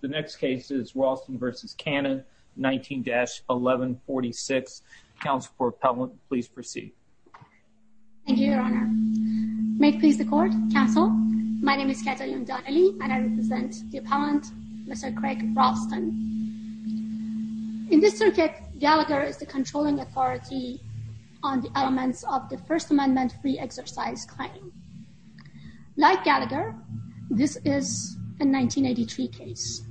The next case is Ralston v. Cannon 19-1146. Counsel for Appellant, please proceed. Thank you, Your Honor. May it please the Court, Counsel, my name is Katalin Donnelly and I represent the Appellant, Mr. Craig Ralston. In this circuit, Gallagher is the controlling authority on the elements of the First Amendment Free Exercise Claim. Like Gallagher, this is a 1983 case.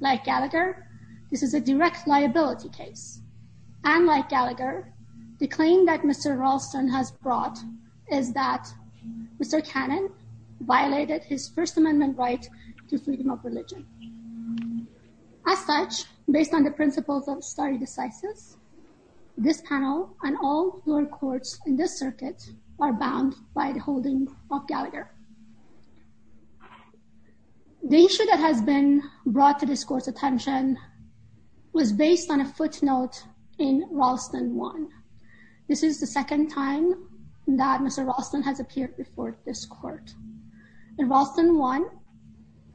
Like Gallagher, this is a direct liability case. And like Gallagher, the claim that Mr. Ralston has brought is that Mr. Cannon violated his First Amendment right to freedom of religion. As such, based on the principles of stare decisis, this panel and all lower courts in this circuit are bound by the holding of Gallagher. The issue that has been brought to this Court's attention was based on a footnote in Ralston 1. This is the second time that Mr. Ralston has appeared before this Court. In Ralston 1,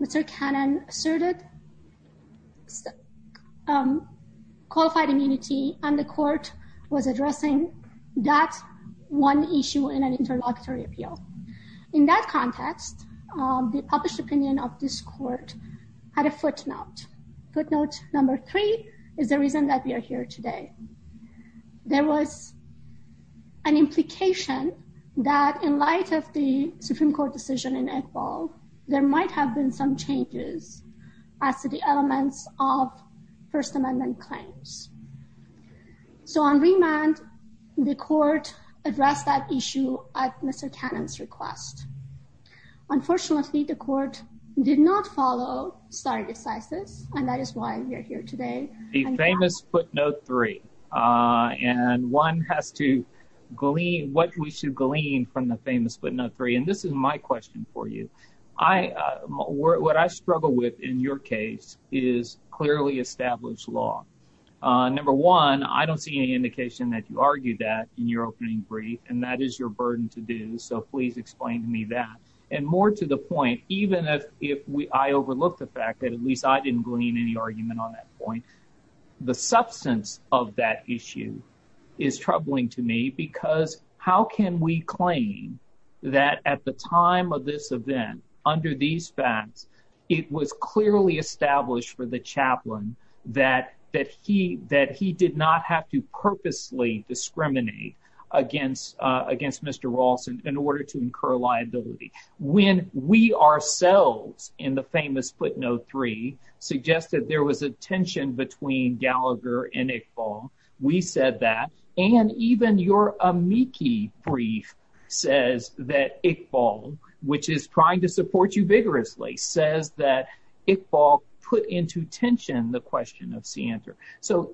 Mr. Cannon asserted qualified immunity and the Court was addressing that one issue in an interlocutory appeal. In that context, the published opinion of this Court had a footnote. Footnote number three is the reason that we are here today. There was an implication that in light of the Supreme Court decision in Iqbal, there might have been some changes as to the elements of First Amendment claims. So on remand, the Court addressed that issue at Mr. Cannon's request. Unfortunately, the Court did not follow stare decisis, and that is why we are here today. The famous footnote three. And one has to glean what we should glean from the famous footnote three. And this is my question for you. What I struggle with in your case is clearly established law. Number one, I don't see any indication that you argued that in your opening brief, and that is your burden to do, so please explain to me that. And more to the point, even if I overlooked the fact that at least I didn't glean any argument on that point, the substance of that issue is troubling to me, because how can we claim that at the time of this event, under these facts, it was clearly established for the chaplain that he did not have to purposely discriminate against Mr. Rawls in order to incur liability, when we ourselves in the famous footnote three suggested there was a tension between Gallagher and Iqbal. We said that. And even your amici brief says that Iqbal, which is trying to support you vigorously, says that Iqbal put into tension the question of Cianta. So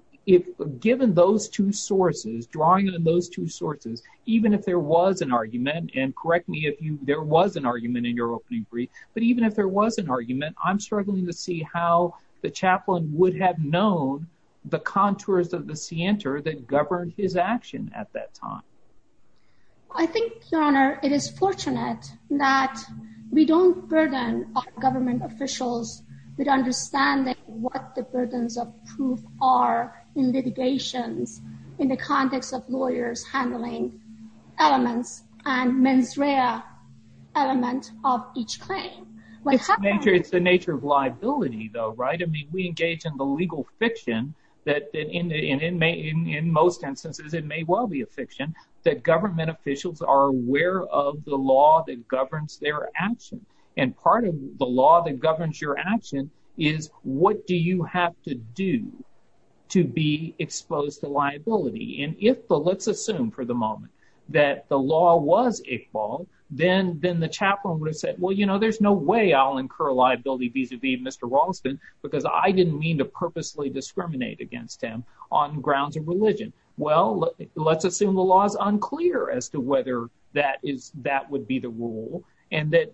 given those two sources, drawing on those two sources, even if there was an argument, and correct me if there was an argument in your brief, but even if there was an argument, I'm struggling to see how the chaplain would have known the contours of the Cianta that governed his action at that time. I think, Your Honor, it is fortunate that we don't burden our government officials with understanding what the burdens of proof are in litigations, in the context of lawyers handling elements and mens rea element of each claim. It's the nature of liability, though, right? I mean, we engage in the legal fiction that in most instances, it may well be a fiction, that government officials are aware of the law that governs their action. And part of the law that governs your action is what do you have to do to be exposed to liability? And if, let's assume for the moment, that the law was Iqbal, then the chaplain would have said, well, you know, there's no way I'll incur liability vis-a-vis Mr. Raulston, because I didn't mean to purposely discriminate against him on grounds of religion. Well, let's assume the law is unclear as to whether that would be the rule, and that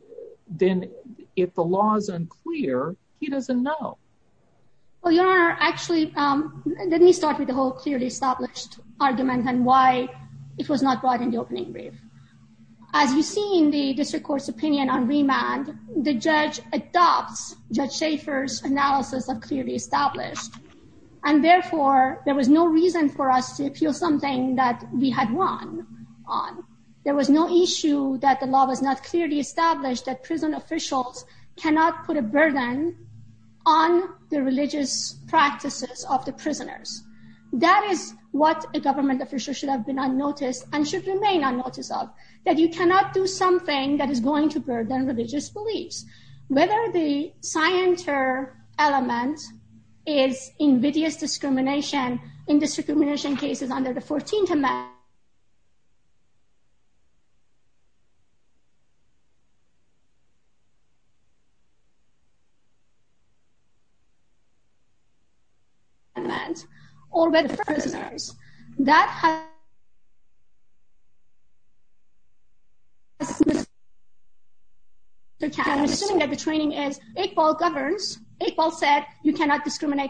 then if the law is unclear, he doesn't know. Well, Your Honor, actually, let me start with the whole clearly established argument and why it was not brought in the opening brief. As you see in the district court's opinion on remand, the judge adopts Judge Schaffer's analysis of clearly established. And therefore, there was no reason for us to appeal something that we had won on. There was no issue that the officials cannot put a burden on the religious practices of the prisoners. That is what a government official should have been unnoticed and should remain unnoticed of, that you cannot do something that is going to burden religious beliefs. Whether the scienter element is invidious discrimination in discrimination cases under the 14th Amendment, or with prisoners, that has to be considered. I'm assuming that the training is, Iqbal governs, Iqbal said you cannot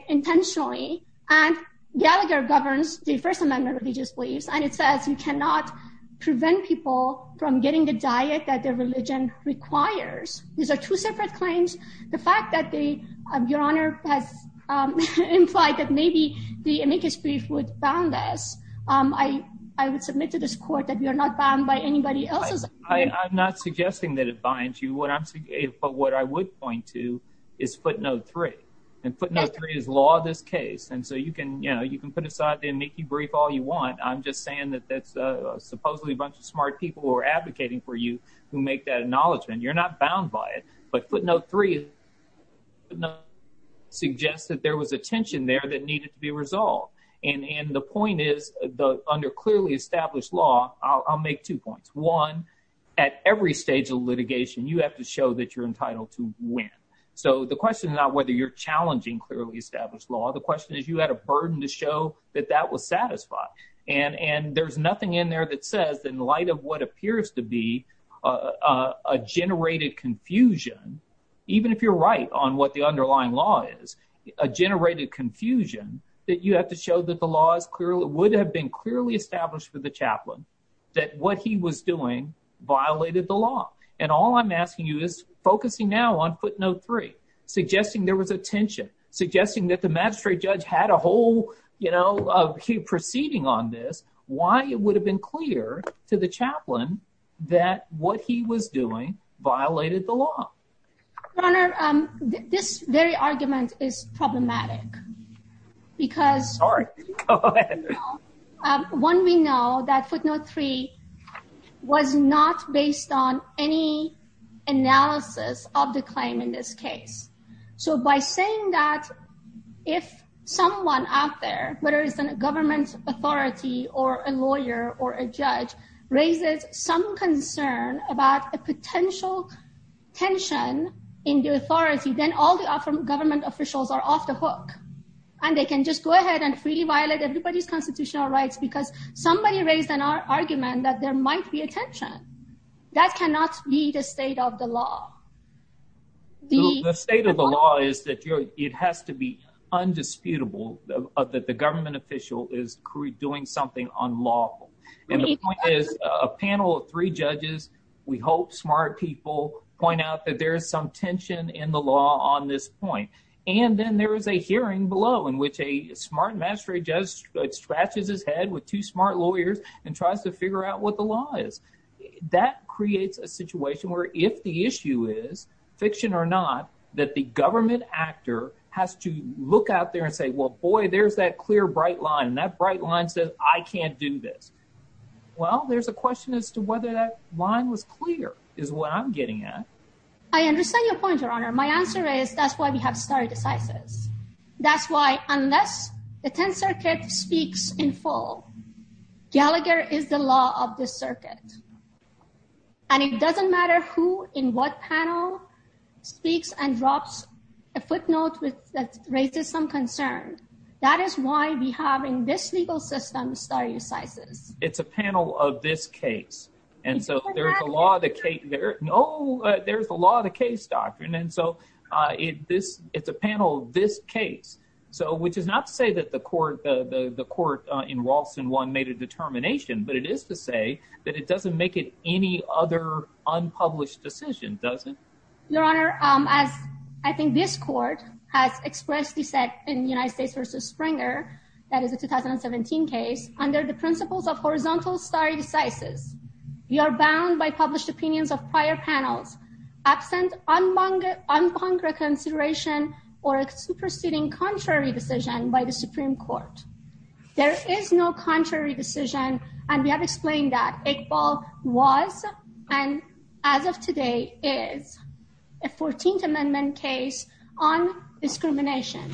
intentionally, and Gallagher governs the First Amendment religious beliefs, and it says you cannot prevent people from getting the diet that their religion requires. These are two separate claims. The fact that Your Honor has implied that maybe the amicus brief would bound us, I would submit to this court that we are not bound by anybody else's. I'm not suggesting that it binds you, but what I would point to is footnote three, and footnote three is law of this case, and so you can put aside the amicus brief all you want. I'm just saying that that's supposedly a bunch of smart people who are advocating for you who make that acknowledgement. You're not bound by it, but footnote three suggests that there was a tension there that needed to be resolved, and the point is, under clearly established law, I'll make two points. One, at every stage of litigation, you have to show that you're entitled to win, so the question is not whether you're challenging clearly established law. The question is you had a burden to show that that was satisfied, and there's nothing in there that says, in light of what appears to be a generated confusion, even if you're right on what the underlying law is, a generated confusion that you have to show that the law would have been clearly established for the chaplain, that what he was doing violated the law, and all I'm asking you is focusing now on footnote three, suggesting there was a tension, suggesting that the magistrate judge had a whole, you know, proceeding on this. Why it would have been clear to the chaplain that what he was doing violated the law? Your Honor, this very argument is problematic because one, we know that footnote three was not based on any analysis of the claim in this case, so by saying that if someone out there, whether it's a government authority or a lawyer or a judge, raises some concern about a potential tension in the authority, then all the government officials are off the hook, and they can just go ahead and freely violate everybody's constitutional rights because somebody raised an argument that there might be a tension. That cannot be the state of the law. The state of the law is that it has to be undisputable that the government official is doing something unlawful, and the point is a panel of three judges, we hope smart people, point out that there's some tension in the law on this point, and then there is a hearing below in which a smart magistrate judge scratches his head with two smart lawyers and tries to figure out what the law is. That creates a situation where if the issue is, fiction or not, that the government actor has to look out there and say, well, boy, there's that clear, bright line, and that bright line says, I can't do this. Well, there's a question as to whether that line was clear is what I'm getting at. I understand your point, Your Honor. My answer is, that's why we have stare decisis. That's why unless the 10th Circuit speaks in full, Gallagher is the law of the circuit, and it doesn't matter who in what panel speaks and drops a footnote that raises some concern. That is why we have in this legal system stare decisis. It's a panel of this case, and so there's the law of the case. No, there's the law of the case doctrine, and so it's a panel of this case, which is not to say that the court in Walson 1 made a determination, but it is to say that it doesn't make it any other unpublished decision, does it? Your Honor, as I think this court has expressly said in the United States versus Springer, that is a 2017 case, under the principles of horizontal stare decisis, we are bound by published opinions of prior panels, absent unbunked reconsideration or a superseding contrary decision by the Supreme Court. There is no contrary decision, and we have explained that Iqbal was, and as of today is, a 14th Amendment case on discrimination,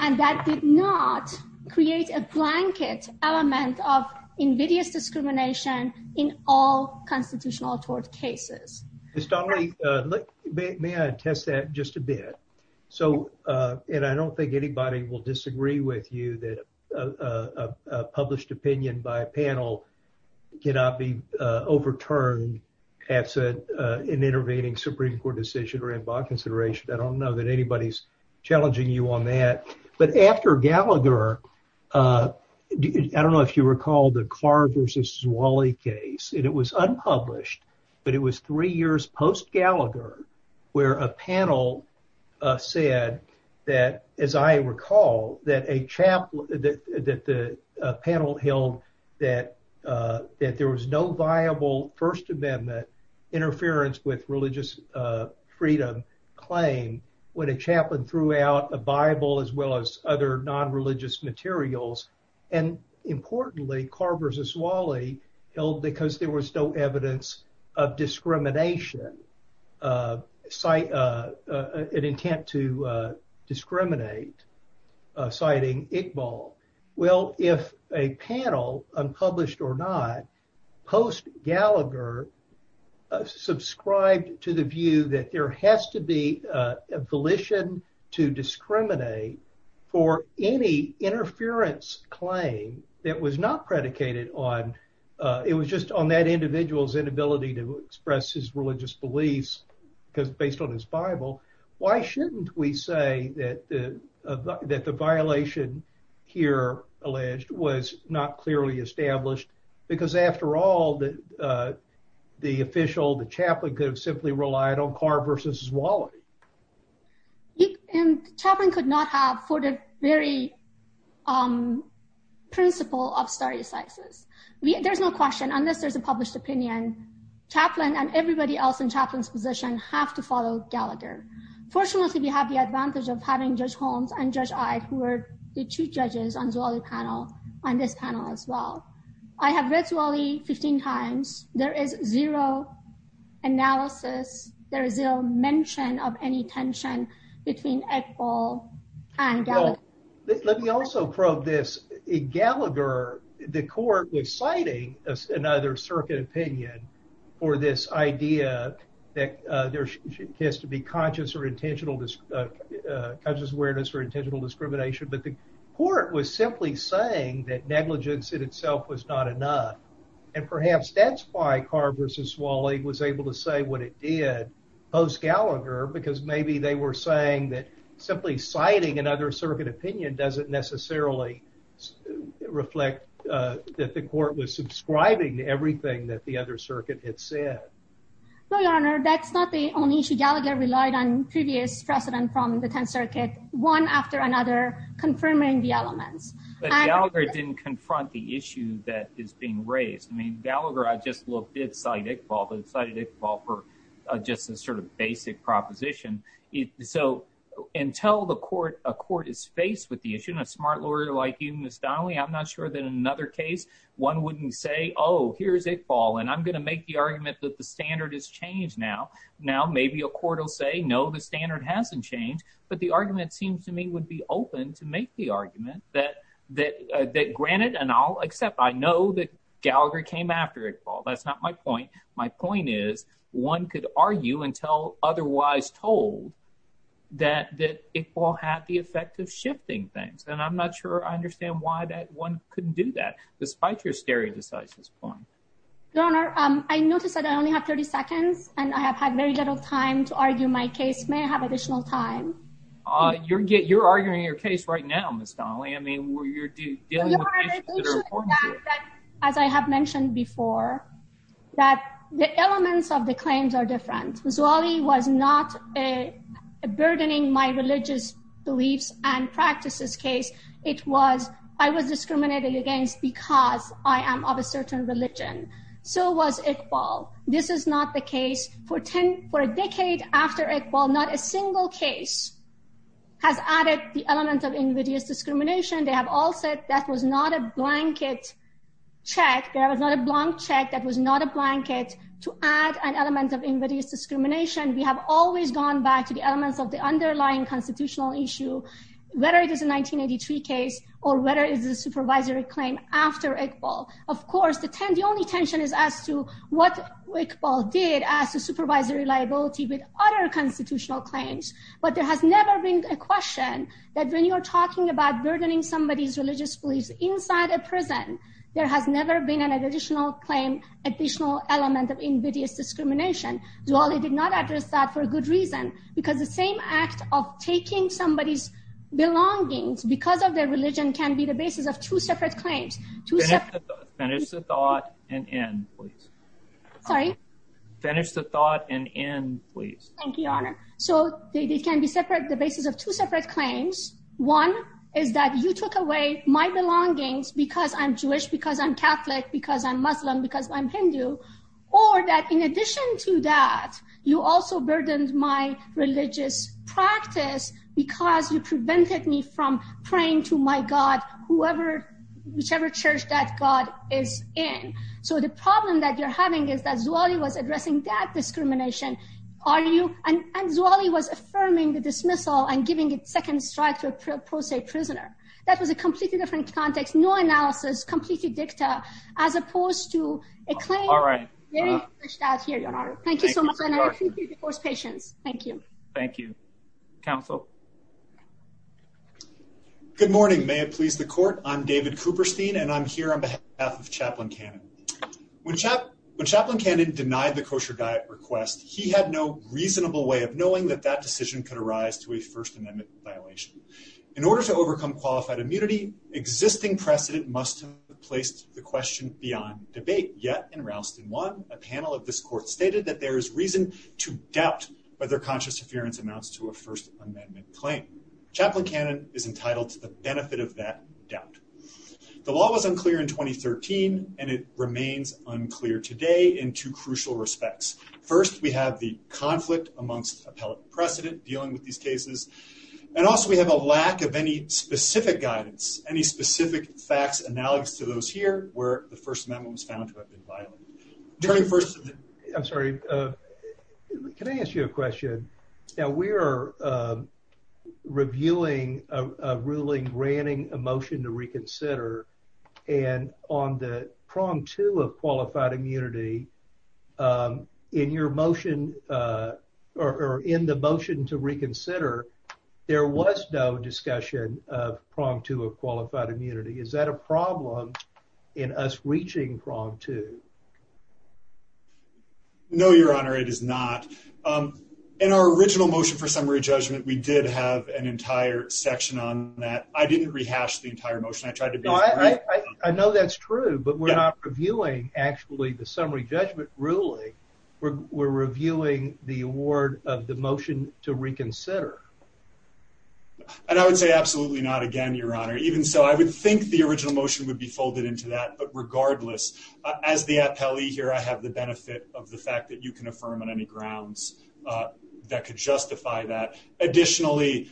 and that did not create a blanket element of invidious discrimination in all constitutional court cases. Ms. Donnelly, may I attest that just a bit? So, and I don't think anybody will disagree with you that a published opinion by a panel cannot be overturned as an intervening Supreme Court decision or unbunked consideration. I don't know that anybody's challenging you on that, but after Gallagher, I don't know if you recall the Clark versus Zwally case, and it was unpublished, but it was three years post-Gallagher where a panel said that, as I recall, that a chaplain, that the panel held that there was no viable First Amendment interference with religious freedom claim when a chaplain threw out a Bible as well as other non-religious materials, and importantly, Clark versus Zwally held because there was no evidence of discrimination, an intent to discriminate, citing Iqbal. Well, if a panel, unpublished or not, post-Gallagher, subscribed to the view that there has to be a volition to discriminate for any interference claim that was not predicated on, it was just on that individual's inability to express his religious beliefs because based on his Bible, why shouldn't we say that the violation here alleged was not clearly established? Because after all, the official, the chaplain could have simply relied on Clark versus Zwally. And chaplain could not have for the very principle of stare decisis. There's no question, unless there's a published opinion, chaplain and everybody else in chaplain's position have to follow Gallagher. Fortunately, we have the two judges on Zwally panel on this panel as well. I have read Zwally 15 times. There is zero analysis. There is no mention of any tension between Iqbal and Gallagher. Let me also probe this. In Gallagher, the court was citing another circuit opinion for this idea that there has to be conscious awareness for intentional discrimination, but the court was simply saying that negligence in itself was not enough. And perhaps that's why Clark versus Zwally was able to say what it did post-Gallagher because maybe they were saying that simply citing another circuit opinion doesn't necessarily reflect that the court was subscribing everything that the other circuit had said. No, your honor, that's not the only issue. Gallagher relied on previous precedent from the 10th circuit, one after another, confirming the elements. But Gallagher didn't confront the issue that is being raised. I mean, Gallagher, I just looked, did cite Iqbal, but cited Iqbal for just a sort of basic proposition. So, until a court is faced with the issue, and a smart lawyer like you, Ms. Donnelly, I'm not sure that in another case, one wouldn't say, oh, here's Iqbal, and I'm going to make the argument that the standard has changed now. Now, maybe a court will say, no, the standard hasn't changed. But the argument seems to me would be open to make the argument that granted, and I'll accept, I know that Gallagher came after Iqbal. That's not my point. My point is, one could argue until otherwise told that Iqbal had the effect of shifting things. And I'm not sure I understand why one couldn't do that, despite your stereo-decisive point. MS. DONNELLY Your Honor, I noticed that I only have 30 seconds, and I have had very little time to argue my case. May I have additional time? MR. MCMASTER You're arguing your case right now, Ms. Donnelly. I mean, you're dealing with issues that are important to you. MS. DONNELLY Your Honor, the issue is that, as I have mentioned before, that the elements of the claims are different. Ms. Wally was not burdening my religious beliefs and practices case. It was, I was discriminated against because I am of a certain religion. So was Iqbal. This is not the case. For a decade after Iqbal, not a single case has added the element of invidious discrimination. They have all said that was not a blanket check. That was not a blank check. That was not a blanket to add an element of invidious discrimination. We have always gone back to the elements of the underlying constitutional issue, whether it is a 1983 case or whether it is a supervisory claim after Iqbal. Of course, the only tension is as to what Iqbal did as a supervisory liability with other constitutional claims. But there has never been a question that when you're talking about burdening somebody's religious beliefs inside a prison, there has never been an additional claim, additional element of discrimination. Ms. Wally did not address that for a good reason, because the same act of taking somebody's belongings because of their religion can be the basis of two separate claims. Finish the thought and end, please. Sorry? Finish the thought and end, please. Thank you, Your Honor. So they can be separate, the basis of two separate claims. One is that you took away my belongings because I'm Jewish, because I'm Catholic, because I'm Muslim, because I'm Hindu, or that in addition to that, you also burdened my religious practice because you prevented me from praying to my God, whichever church that God is in. So the problem that you're having is that Zawali was addressing that discrimination, and Zawali was affirming the dismissal and giving a second strike to a pro se prisoner. That was a completely different context, no analysis, completely dicta, as opposed to a claim. All right. Thank you so much, and I appreciate your patience. Thank you. Thank you. Counsel? Good morning. May it please the court. I'm David Cooperstein, and I'm here on behalf of Chaplain Cannon. When Chaplain Cannon denied the kosher diet request, he had no reasonable way of knowing that that decision could arise to a First Amendment violation. In order to overcome qualified immunity, existing precedent must have placed the question beyond debate. Yet in Rouston 1, a panel of this court stated that there is reason to doubt whether conscious interference amounts to a First Amendment claim. Chaplain Cannon is entitled to the benefit of that doubt. The law was unclear in 2013, and it remains unclear today in two crucial respects. First, we have the conflict amongst appellate precedent dealing with these cases, and also we have a lack of any specific guidance, any specific facts analogous to those here where the First Amendment was found to have been violated. Attorney, first. I'm sorry. Can I ask you a question? Now, we are reviewing a ruling granting a motion to reconsider, and on the prong two of qualified immunity, in your motion or in the motion to reconsider, there was no discussion of prong two of qualified immunity. Is that a problem in us reaching prong two? No, Your Honor, it is not. In our original motion for summary judgment, we did have an entire section on that. I didn't rehash the entire motion. I know that's true, but we're not reviewing actually the summary judgment ruling. We're reviewing the award of the motion to reconsider. And I would say absolutely not again, Your Honor. Even so, I would think the original motion would be folded into that. But regardless, as the appellee here, I have the benefit of the that could justify that. Additionally,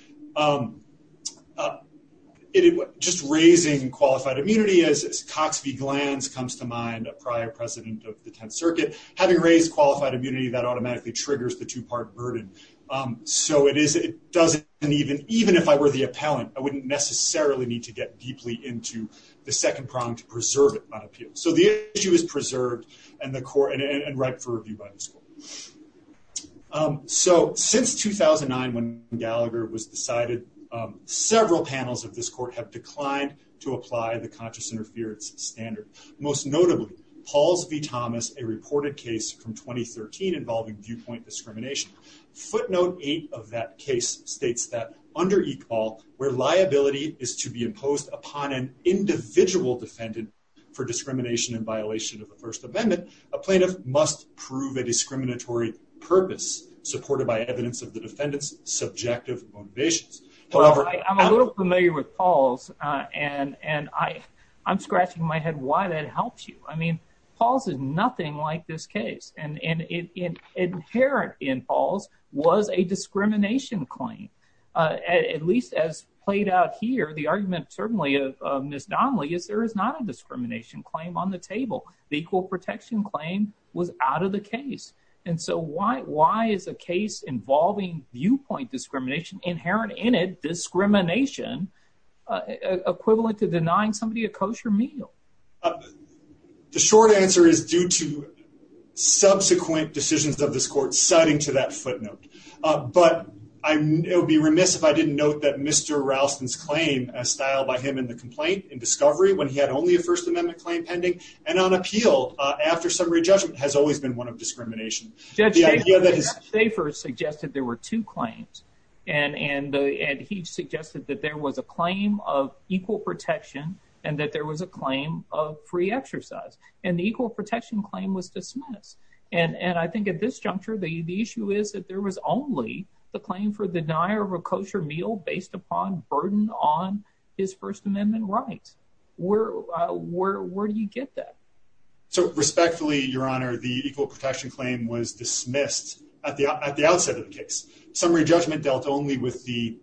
just raising qualified immunity, as Cox v. Glantz comes to mind, a prior president of the Tenth Circuit, having raised qualified immunity, that automatically triggers the two-part burden. So it doesn't even, even if I were the appellant, I wouldn't necessarily need to get deeply into the second prong to preserve it by appeal. So the issue is preserved and right for review by this court. So since 2009, when Gallagher was decided, several panels of this court have declined to apply the conscious interference standard. Most notably, Pauls v. Thomas, a reported case from 2013 involving viewpoint discrimination. Footnote eight of that case states that under EECOL, where liability is to be imposed upon an individual defendant for discrimination and violation of the First Amendment, a plaintiff must prove a discriminatory purpose supported by evidence of the defendant's subjective motivations. However, I'm a little familiar with Pauls, and I'm scratching my head why that helps you. I mean, Pauls is nothing like this case. And inherent in Pauls was a discrimination claim. At least as played out here, the argument certainly of Ms. Donnelly is there is not a discrimination claim on the table. The equal protection claim was out of the case. And so why is a case involving viewpoint discrimination, inherent in it, discrimination, equivalent to denying somebody a kosher meal? The short answer is due to subsequent decisions of this court citing to that footnote. But I would be remiss if I didn't note that Mr. Ralston's claim as styled by him in the complaint in discovery when he had only a First Amendment claim pending and on appeal after summary judgment has always been one of discrimination. Judge Schaefer suggested there were two claims. And he suggested that there was a claim of equal protection and that there was a claim of free exercise. And the equal protection claim was dismissed. And I think at this juncture, the issue is that there was only the claim for the denier of a kosher meal based upon burden on his First Amendment rights. Where do you get that? So respectfully, Your Honor, the equal protection claim was dismissed at the outset of the case. Summary judgment dealt only with the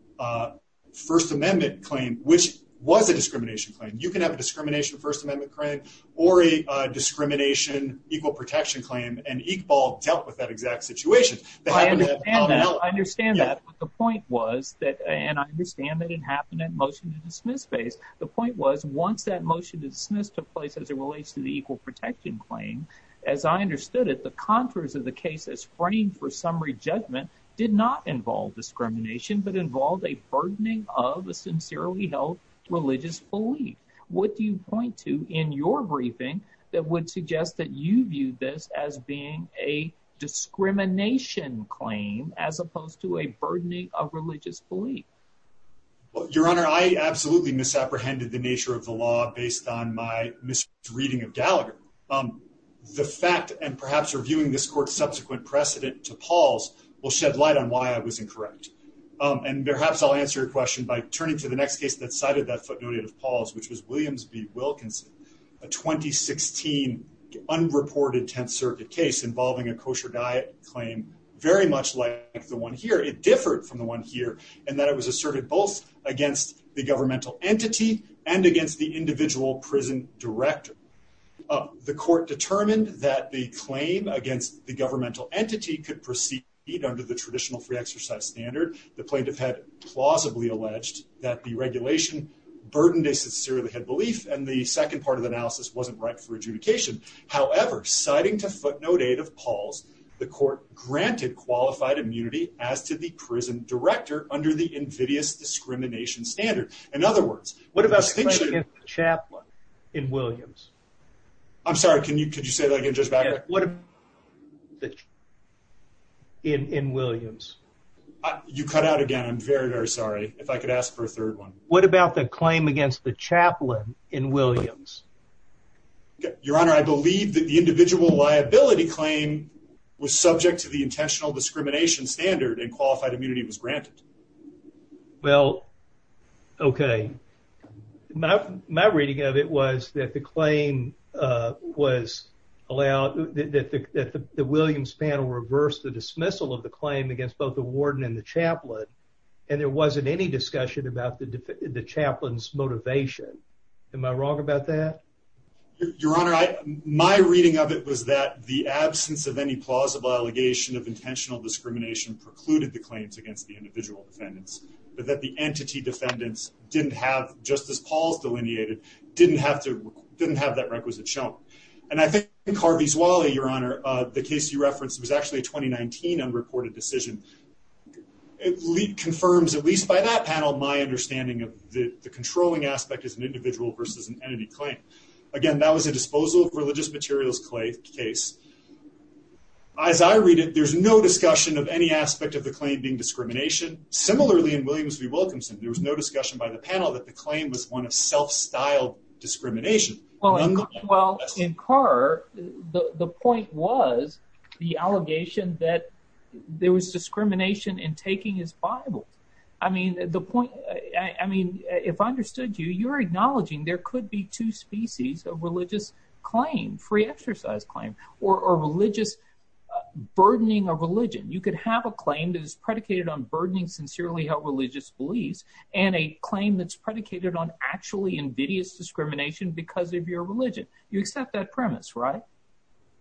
First Amendment claim, which was a discrimination claim. You can have a discrimination First Amendment claim or a discrimination equal protection claim. And Iqbal dealt with that exact situation. I understand that. But the point was that and I understand that it happened at motion to dismiss phase. The point was once that motion to dismiss took place as it relates to the equal protection claim, as I understood it, the contours of the case as framed for summary judgment did not involve discrimination, but involved a burdening of a sincerely held religious belief. What do you point to in your briefing that would suggest that you view this as being a discrimination claim as opposed to a burdening of religious belief? Well, Your Honor, I absolutely misapprehended the nature of the law based on my misreading of Gallagher. The fact and perhaps reviewing this court's subsequent precedent to Paul's will shed light on why I was incorrect. And perhaps I'll answer your question by turning to the next case that cited that footnoted of Paul's, which was Williams v. Wilkinson, a 2016 unreported Tenth Circuit case involving a kosher diet claim, very much like the one here, it differed from the one here, and that it was asserted both against the governmental entity and against the individual prison director. The court determined that the claim against the governmental entity could proceed under the traditional free exercise standard. The plaintiff had plausibly alleged that the regulation burdened a sincerely held belief, and the second part of the analysis wasn't right for adjudication. However, citing to footnote eight of Paul's, the court granted qualified immunity as to the prison director under the invidious discrimination standard. In other words, what about the chaplain in Williams? I'm sorry, can you could you say that again? In Williams? You cut out again. I'm very, very sorry. If I could ask for a third one. What about the claim against the chaplain in Williams? Your honor, I believe that the individual liability claim was subject to the intentional discrimination standard and qualified immunity was granted. Well, okay. My reading of it was that the claim was allowed that the Williams panel reversed the dismissal of the claim against both the warden and the chaplain, and there wasn't any discussion about the chaplain's motivation. Am I wrong about that? Your honor, my reading of it was that the absence of any plausible allegation of intentional discrimination precluded the claims against the individual defendants, but that the entity defendants didn't have, just as Paul's delineated, didn't have to, didn't have that requisite show. And I think Harvey's Wally, your honor, the case you referenced was actually a 2019 unreported decision. It confirms, at least by that panel, my understanding of the controlling aspect as an individual versus an entity claim. Again, that was a disposal of religious materials case. As I read it, there's no discussion of any similarly in Williams v. Wilkinson. There was no discussion by the panel that the claim was one of self-styled discrimination. Well, in Carr, the point was the allegation that there was discrimination in taking his Bible. I mean, the point, I mean, if I understood you, you're acknowledging there could be two species of religious claim, free exercise claim, or religious burdening of religion. You could have a claim that is predicated on burdening sincerely held religious beliefs, and a claim that's predicated on actually invidious discrimination because of your religion. You accept that premise, right?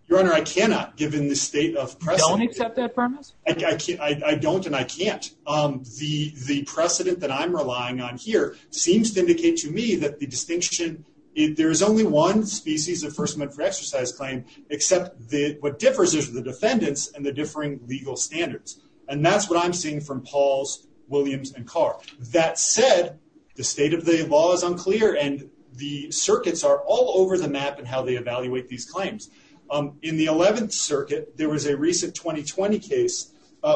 Your honor, I cannot, given the state of precedent. You don't accept that premise? I can't, I don't and I can't. The precedent that I'm relying on here seems to indicate to me that the distinction, there is only one species of first amendment for exercise claim, except that what differs is the defendants and the differing legal standards. And that's what I'm seeing from Paul's, Williams, and Carr. That said, the state of the law is unclear and the circuits are all over the map and how they evaluate these claims. In the 11th circuit, there was a recent 2020 case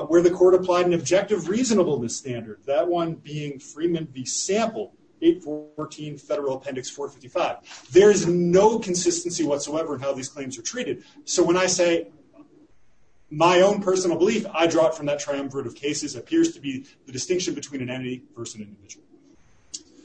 where the court applied an objective reasonableness standard. That one being Freeman v. Sample, 814 federal appendix 455. There is no consistency whatsoever in how these claims are treated. So when I say my own personal belief, I draw it from that triumvirate of cases appears to be the distinction between an entity versus an individual.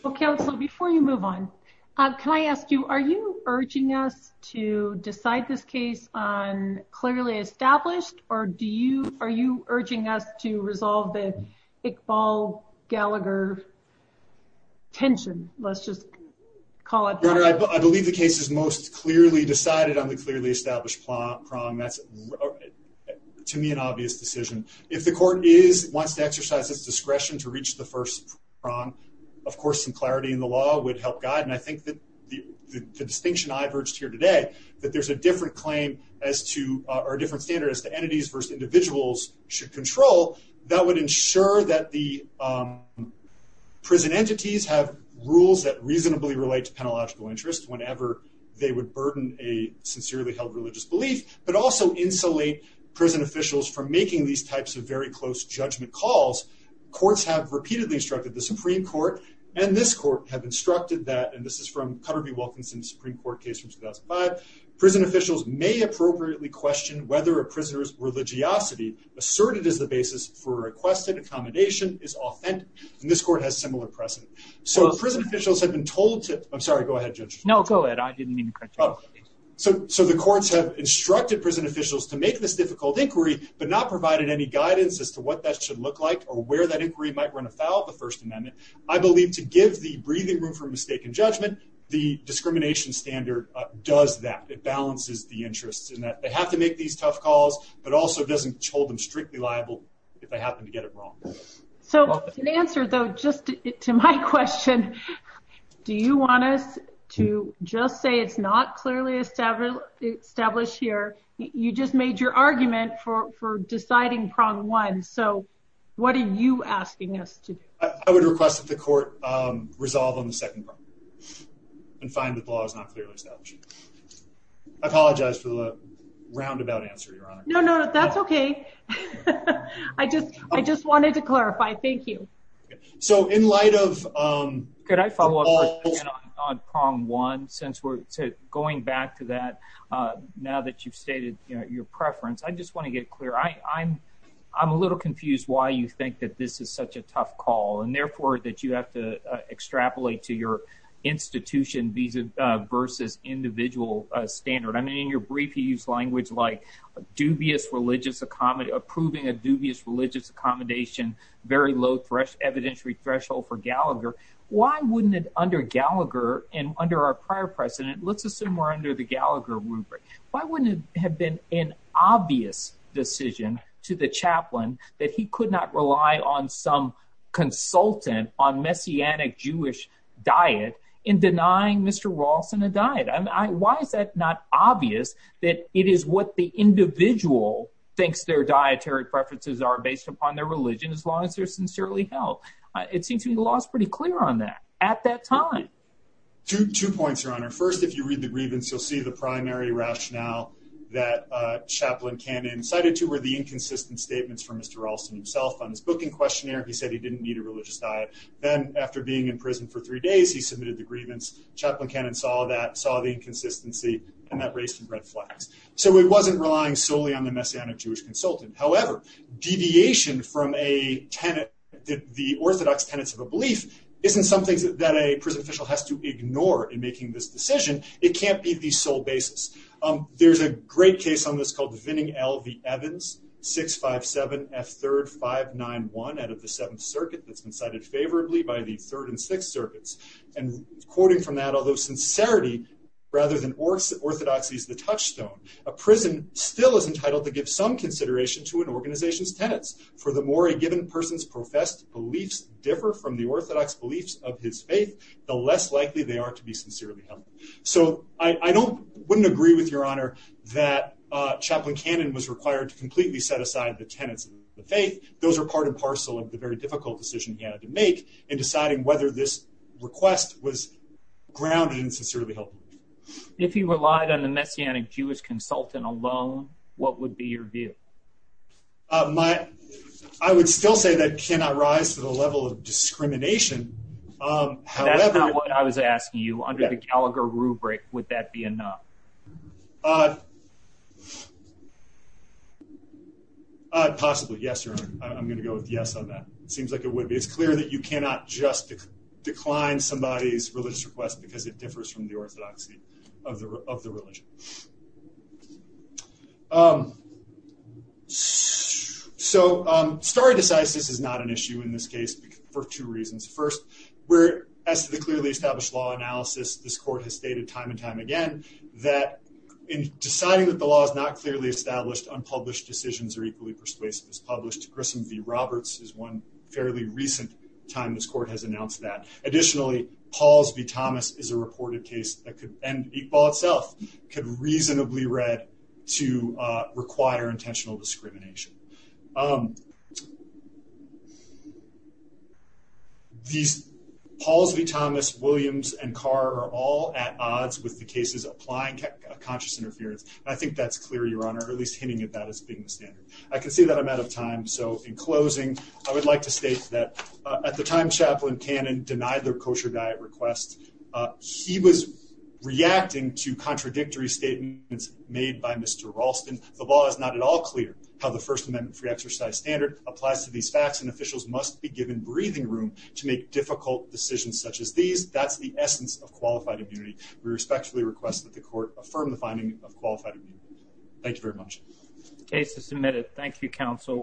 Well, counsel, before you move on, can I ask you, are you urging us to decide this case on clearly established or do you, are you urging us to resolve the Iqbal-Gallagher tension? Let's just call it. Your honor, I believe the case is most clearly decided on the clearly established prong. That's, to me, an obvious decision. If the court is, wants to exercise its discretion to reach the first prong, of course, some clarity in the law would help guide. And I think that the distinction I've urged here today, that there's a different claim as to, or a different standard as to entities versus individuals should control that would ensure that the prison entities have rules that reasonably relate to they would burden a sincerely held religious belief, but also insulate prison officials from making these types of very close judgment calls. Courts have repeatedly instructed the Supreme Court and this court have instructed that, and this is from Cutter v. Wilkinson, Supreme Court case from 2005, prison officials may appropriately question whether a prisoner's religiosity asserted as the basis for requested accommodation is authentic. And this court has similar precedent. So prison officials have been told to, I'm sorry, go ahead, Judge. No, go ahead. I didn't mean to cut you off. So, so the courts have instructed prison officials to make this difficult inquiry, but not provided any guidance as to what that should look like or where that inquiry might run afoul of the First Amendment. I believe to give the breathing room for mistaken judgment, the discrimination standard does that. It balances the interests in that they have to make these tough calls, but also doesn't hold them strictly liable if they happen to get it wrong. So the answer though, just to my question, do you want us to just say it's not clearly established here? You just made your argument for, for deciding prong one. So what are you asking us to do? I would request that the court resolve on the second prong and find that the law is not clearly established. I apologize for the roundabout answer, Your Honor. No, no, that's okay. I just, I just wanted to clarify. Thank you. So in light of, um, could I follow up on prong one, since we're going back to that, uh, now that you've stated your preference, I just want to get clear. I I'm, I'm a little confused why you think that this is such a tough call and therefore that you have to extrapolate to your institution visa versus individual standard. I mean, in your brief, he used language like dubious religious accommodate approving a dubious religious accommodation, very low thresh evidentiary threshold for Gallagher. Why wouldn't it under Gallagher and under our prior precedent, let's assume we're under the Gallagher rubric. Why wouldn't it have been an obvious decision to the I, why is that not obvious that it is what the individual thinks their dietary preferences are based upon their religion. As long as they're sincerely held, it seems to me the law is pretty clear on that at that time. Two, two points are on our first, if you read the grievance, you'll see the primary rationale that a chaplain can incited to where the inconsistent statements from Mr. Ralston himself on his booking questionnaire, he said he didn't need a religious diet. Then after being in prison for three days, he submitted the grievance chaplain cannon saw that saw the inconsistency and that race and red flags. So it wasn't relying solely on the messianic Jewish consultant. However, deviation from a tenant, the orthodox tenants of a belief isn't something that a prison official has to ignore in making this decision. It can't be the sole basis. There's a great case on this called Vinning L. V. Evans, 657 F third 591 out of the seventh circuit that's been cited favorably by the third and sixth circuits. And quoting from that, although sincerity rather than orthodoxy is the touchstone, a prison still is entitled to give some consideration to an organization's tenants for the more a given person's professed beliefs differ from the orthodox beliefs of his faith, the less likely they are to be sincerely held. So I don't, wouldn't agree with your honor that a chaplain cannon was required to completely set aside the tenants of the faith. Those are of the very difficult decision he had to make in deciding whether this request was grounded and sincerely helpful. If he relied on the messianic Jewish consultant alone, what would be your view? My, I would still say that cannot rise to the level of discrimination. However, what I was asking you under the Gallagher rubric, would that be enough? Uh, uh, possibly. Yes, sir. I'm going to go with yes on that. It seems like it would be. It's clear that you cannot just decline somebody's religious request because it differs from the orthodoxy of the, of the religion. Um, so, um, started to size. This is not an issue in this case for two reasons. First, where as to the clearly established law analysis, this court has stated time and time again, that in deciding that the law is not clearly established, unpublished decisions are equally persuasive as published. Grissom v. Roberts is one fairly recent time this court has announced that. Additionally, Pauls v. Thomas is a reported case that could, and Iqbal itself could reasonably read to, uh, require intentional discrimination. Um, um, these Pauls v. Thomas, Williams and Carr are all at odds with the cases applying conscious interference. I think that's clear, your honor, at least hinting at that as being the standard. I can see that I'm out of time. So in closing, I would like to state that at the time Chaplain Cannon denied their kosher diet requests, uh, he was reacting to contradictory statements made by Mr. Ralston. The law is not at all clear how the first amendment free exercise standard applies to these facts and officials must be given breathing room to make difficult decisions such as these. That's the essence of qualified immunity. We respectfully request that the court affirm the finding of qualified immunity. Thank you very much. Case is submitted. Thank you, counsel.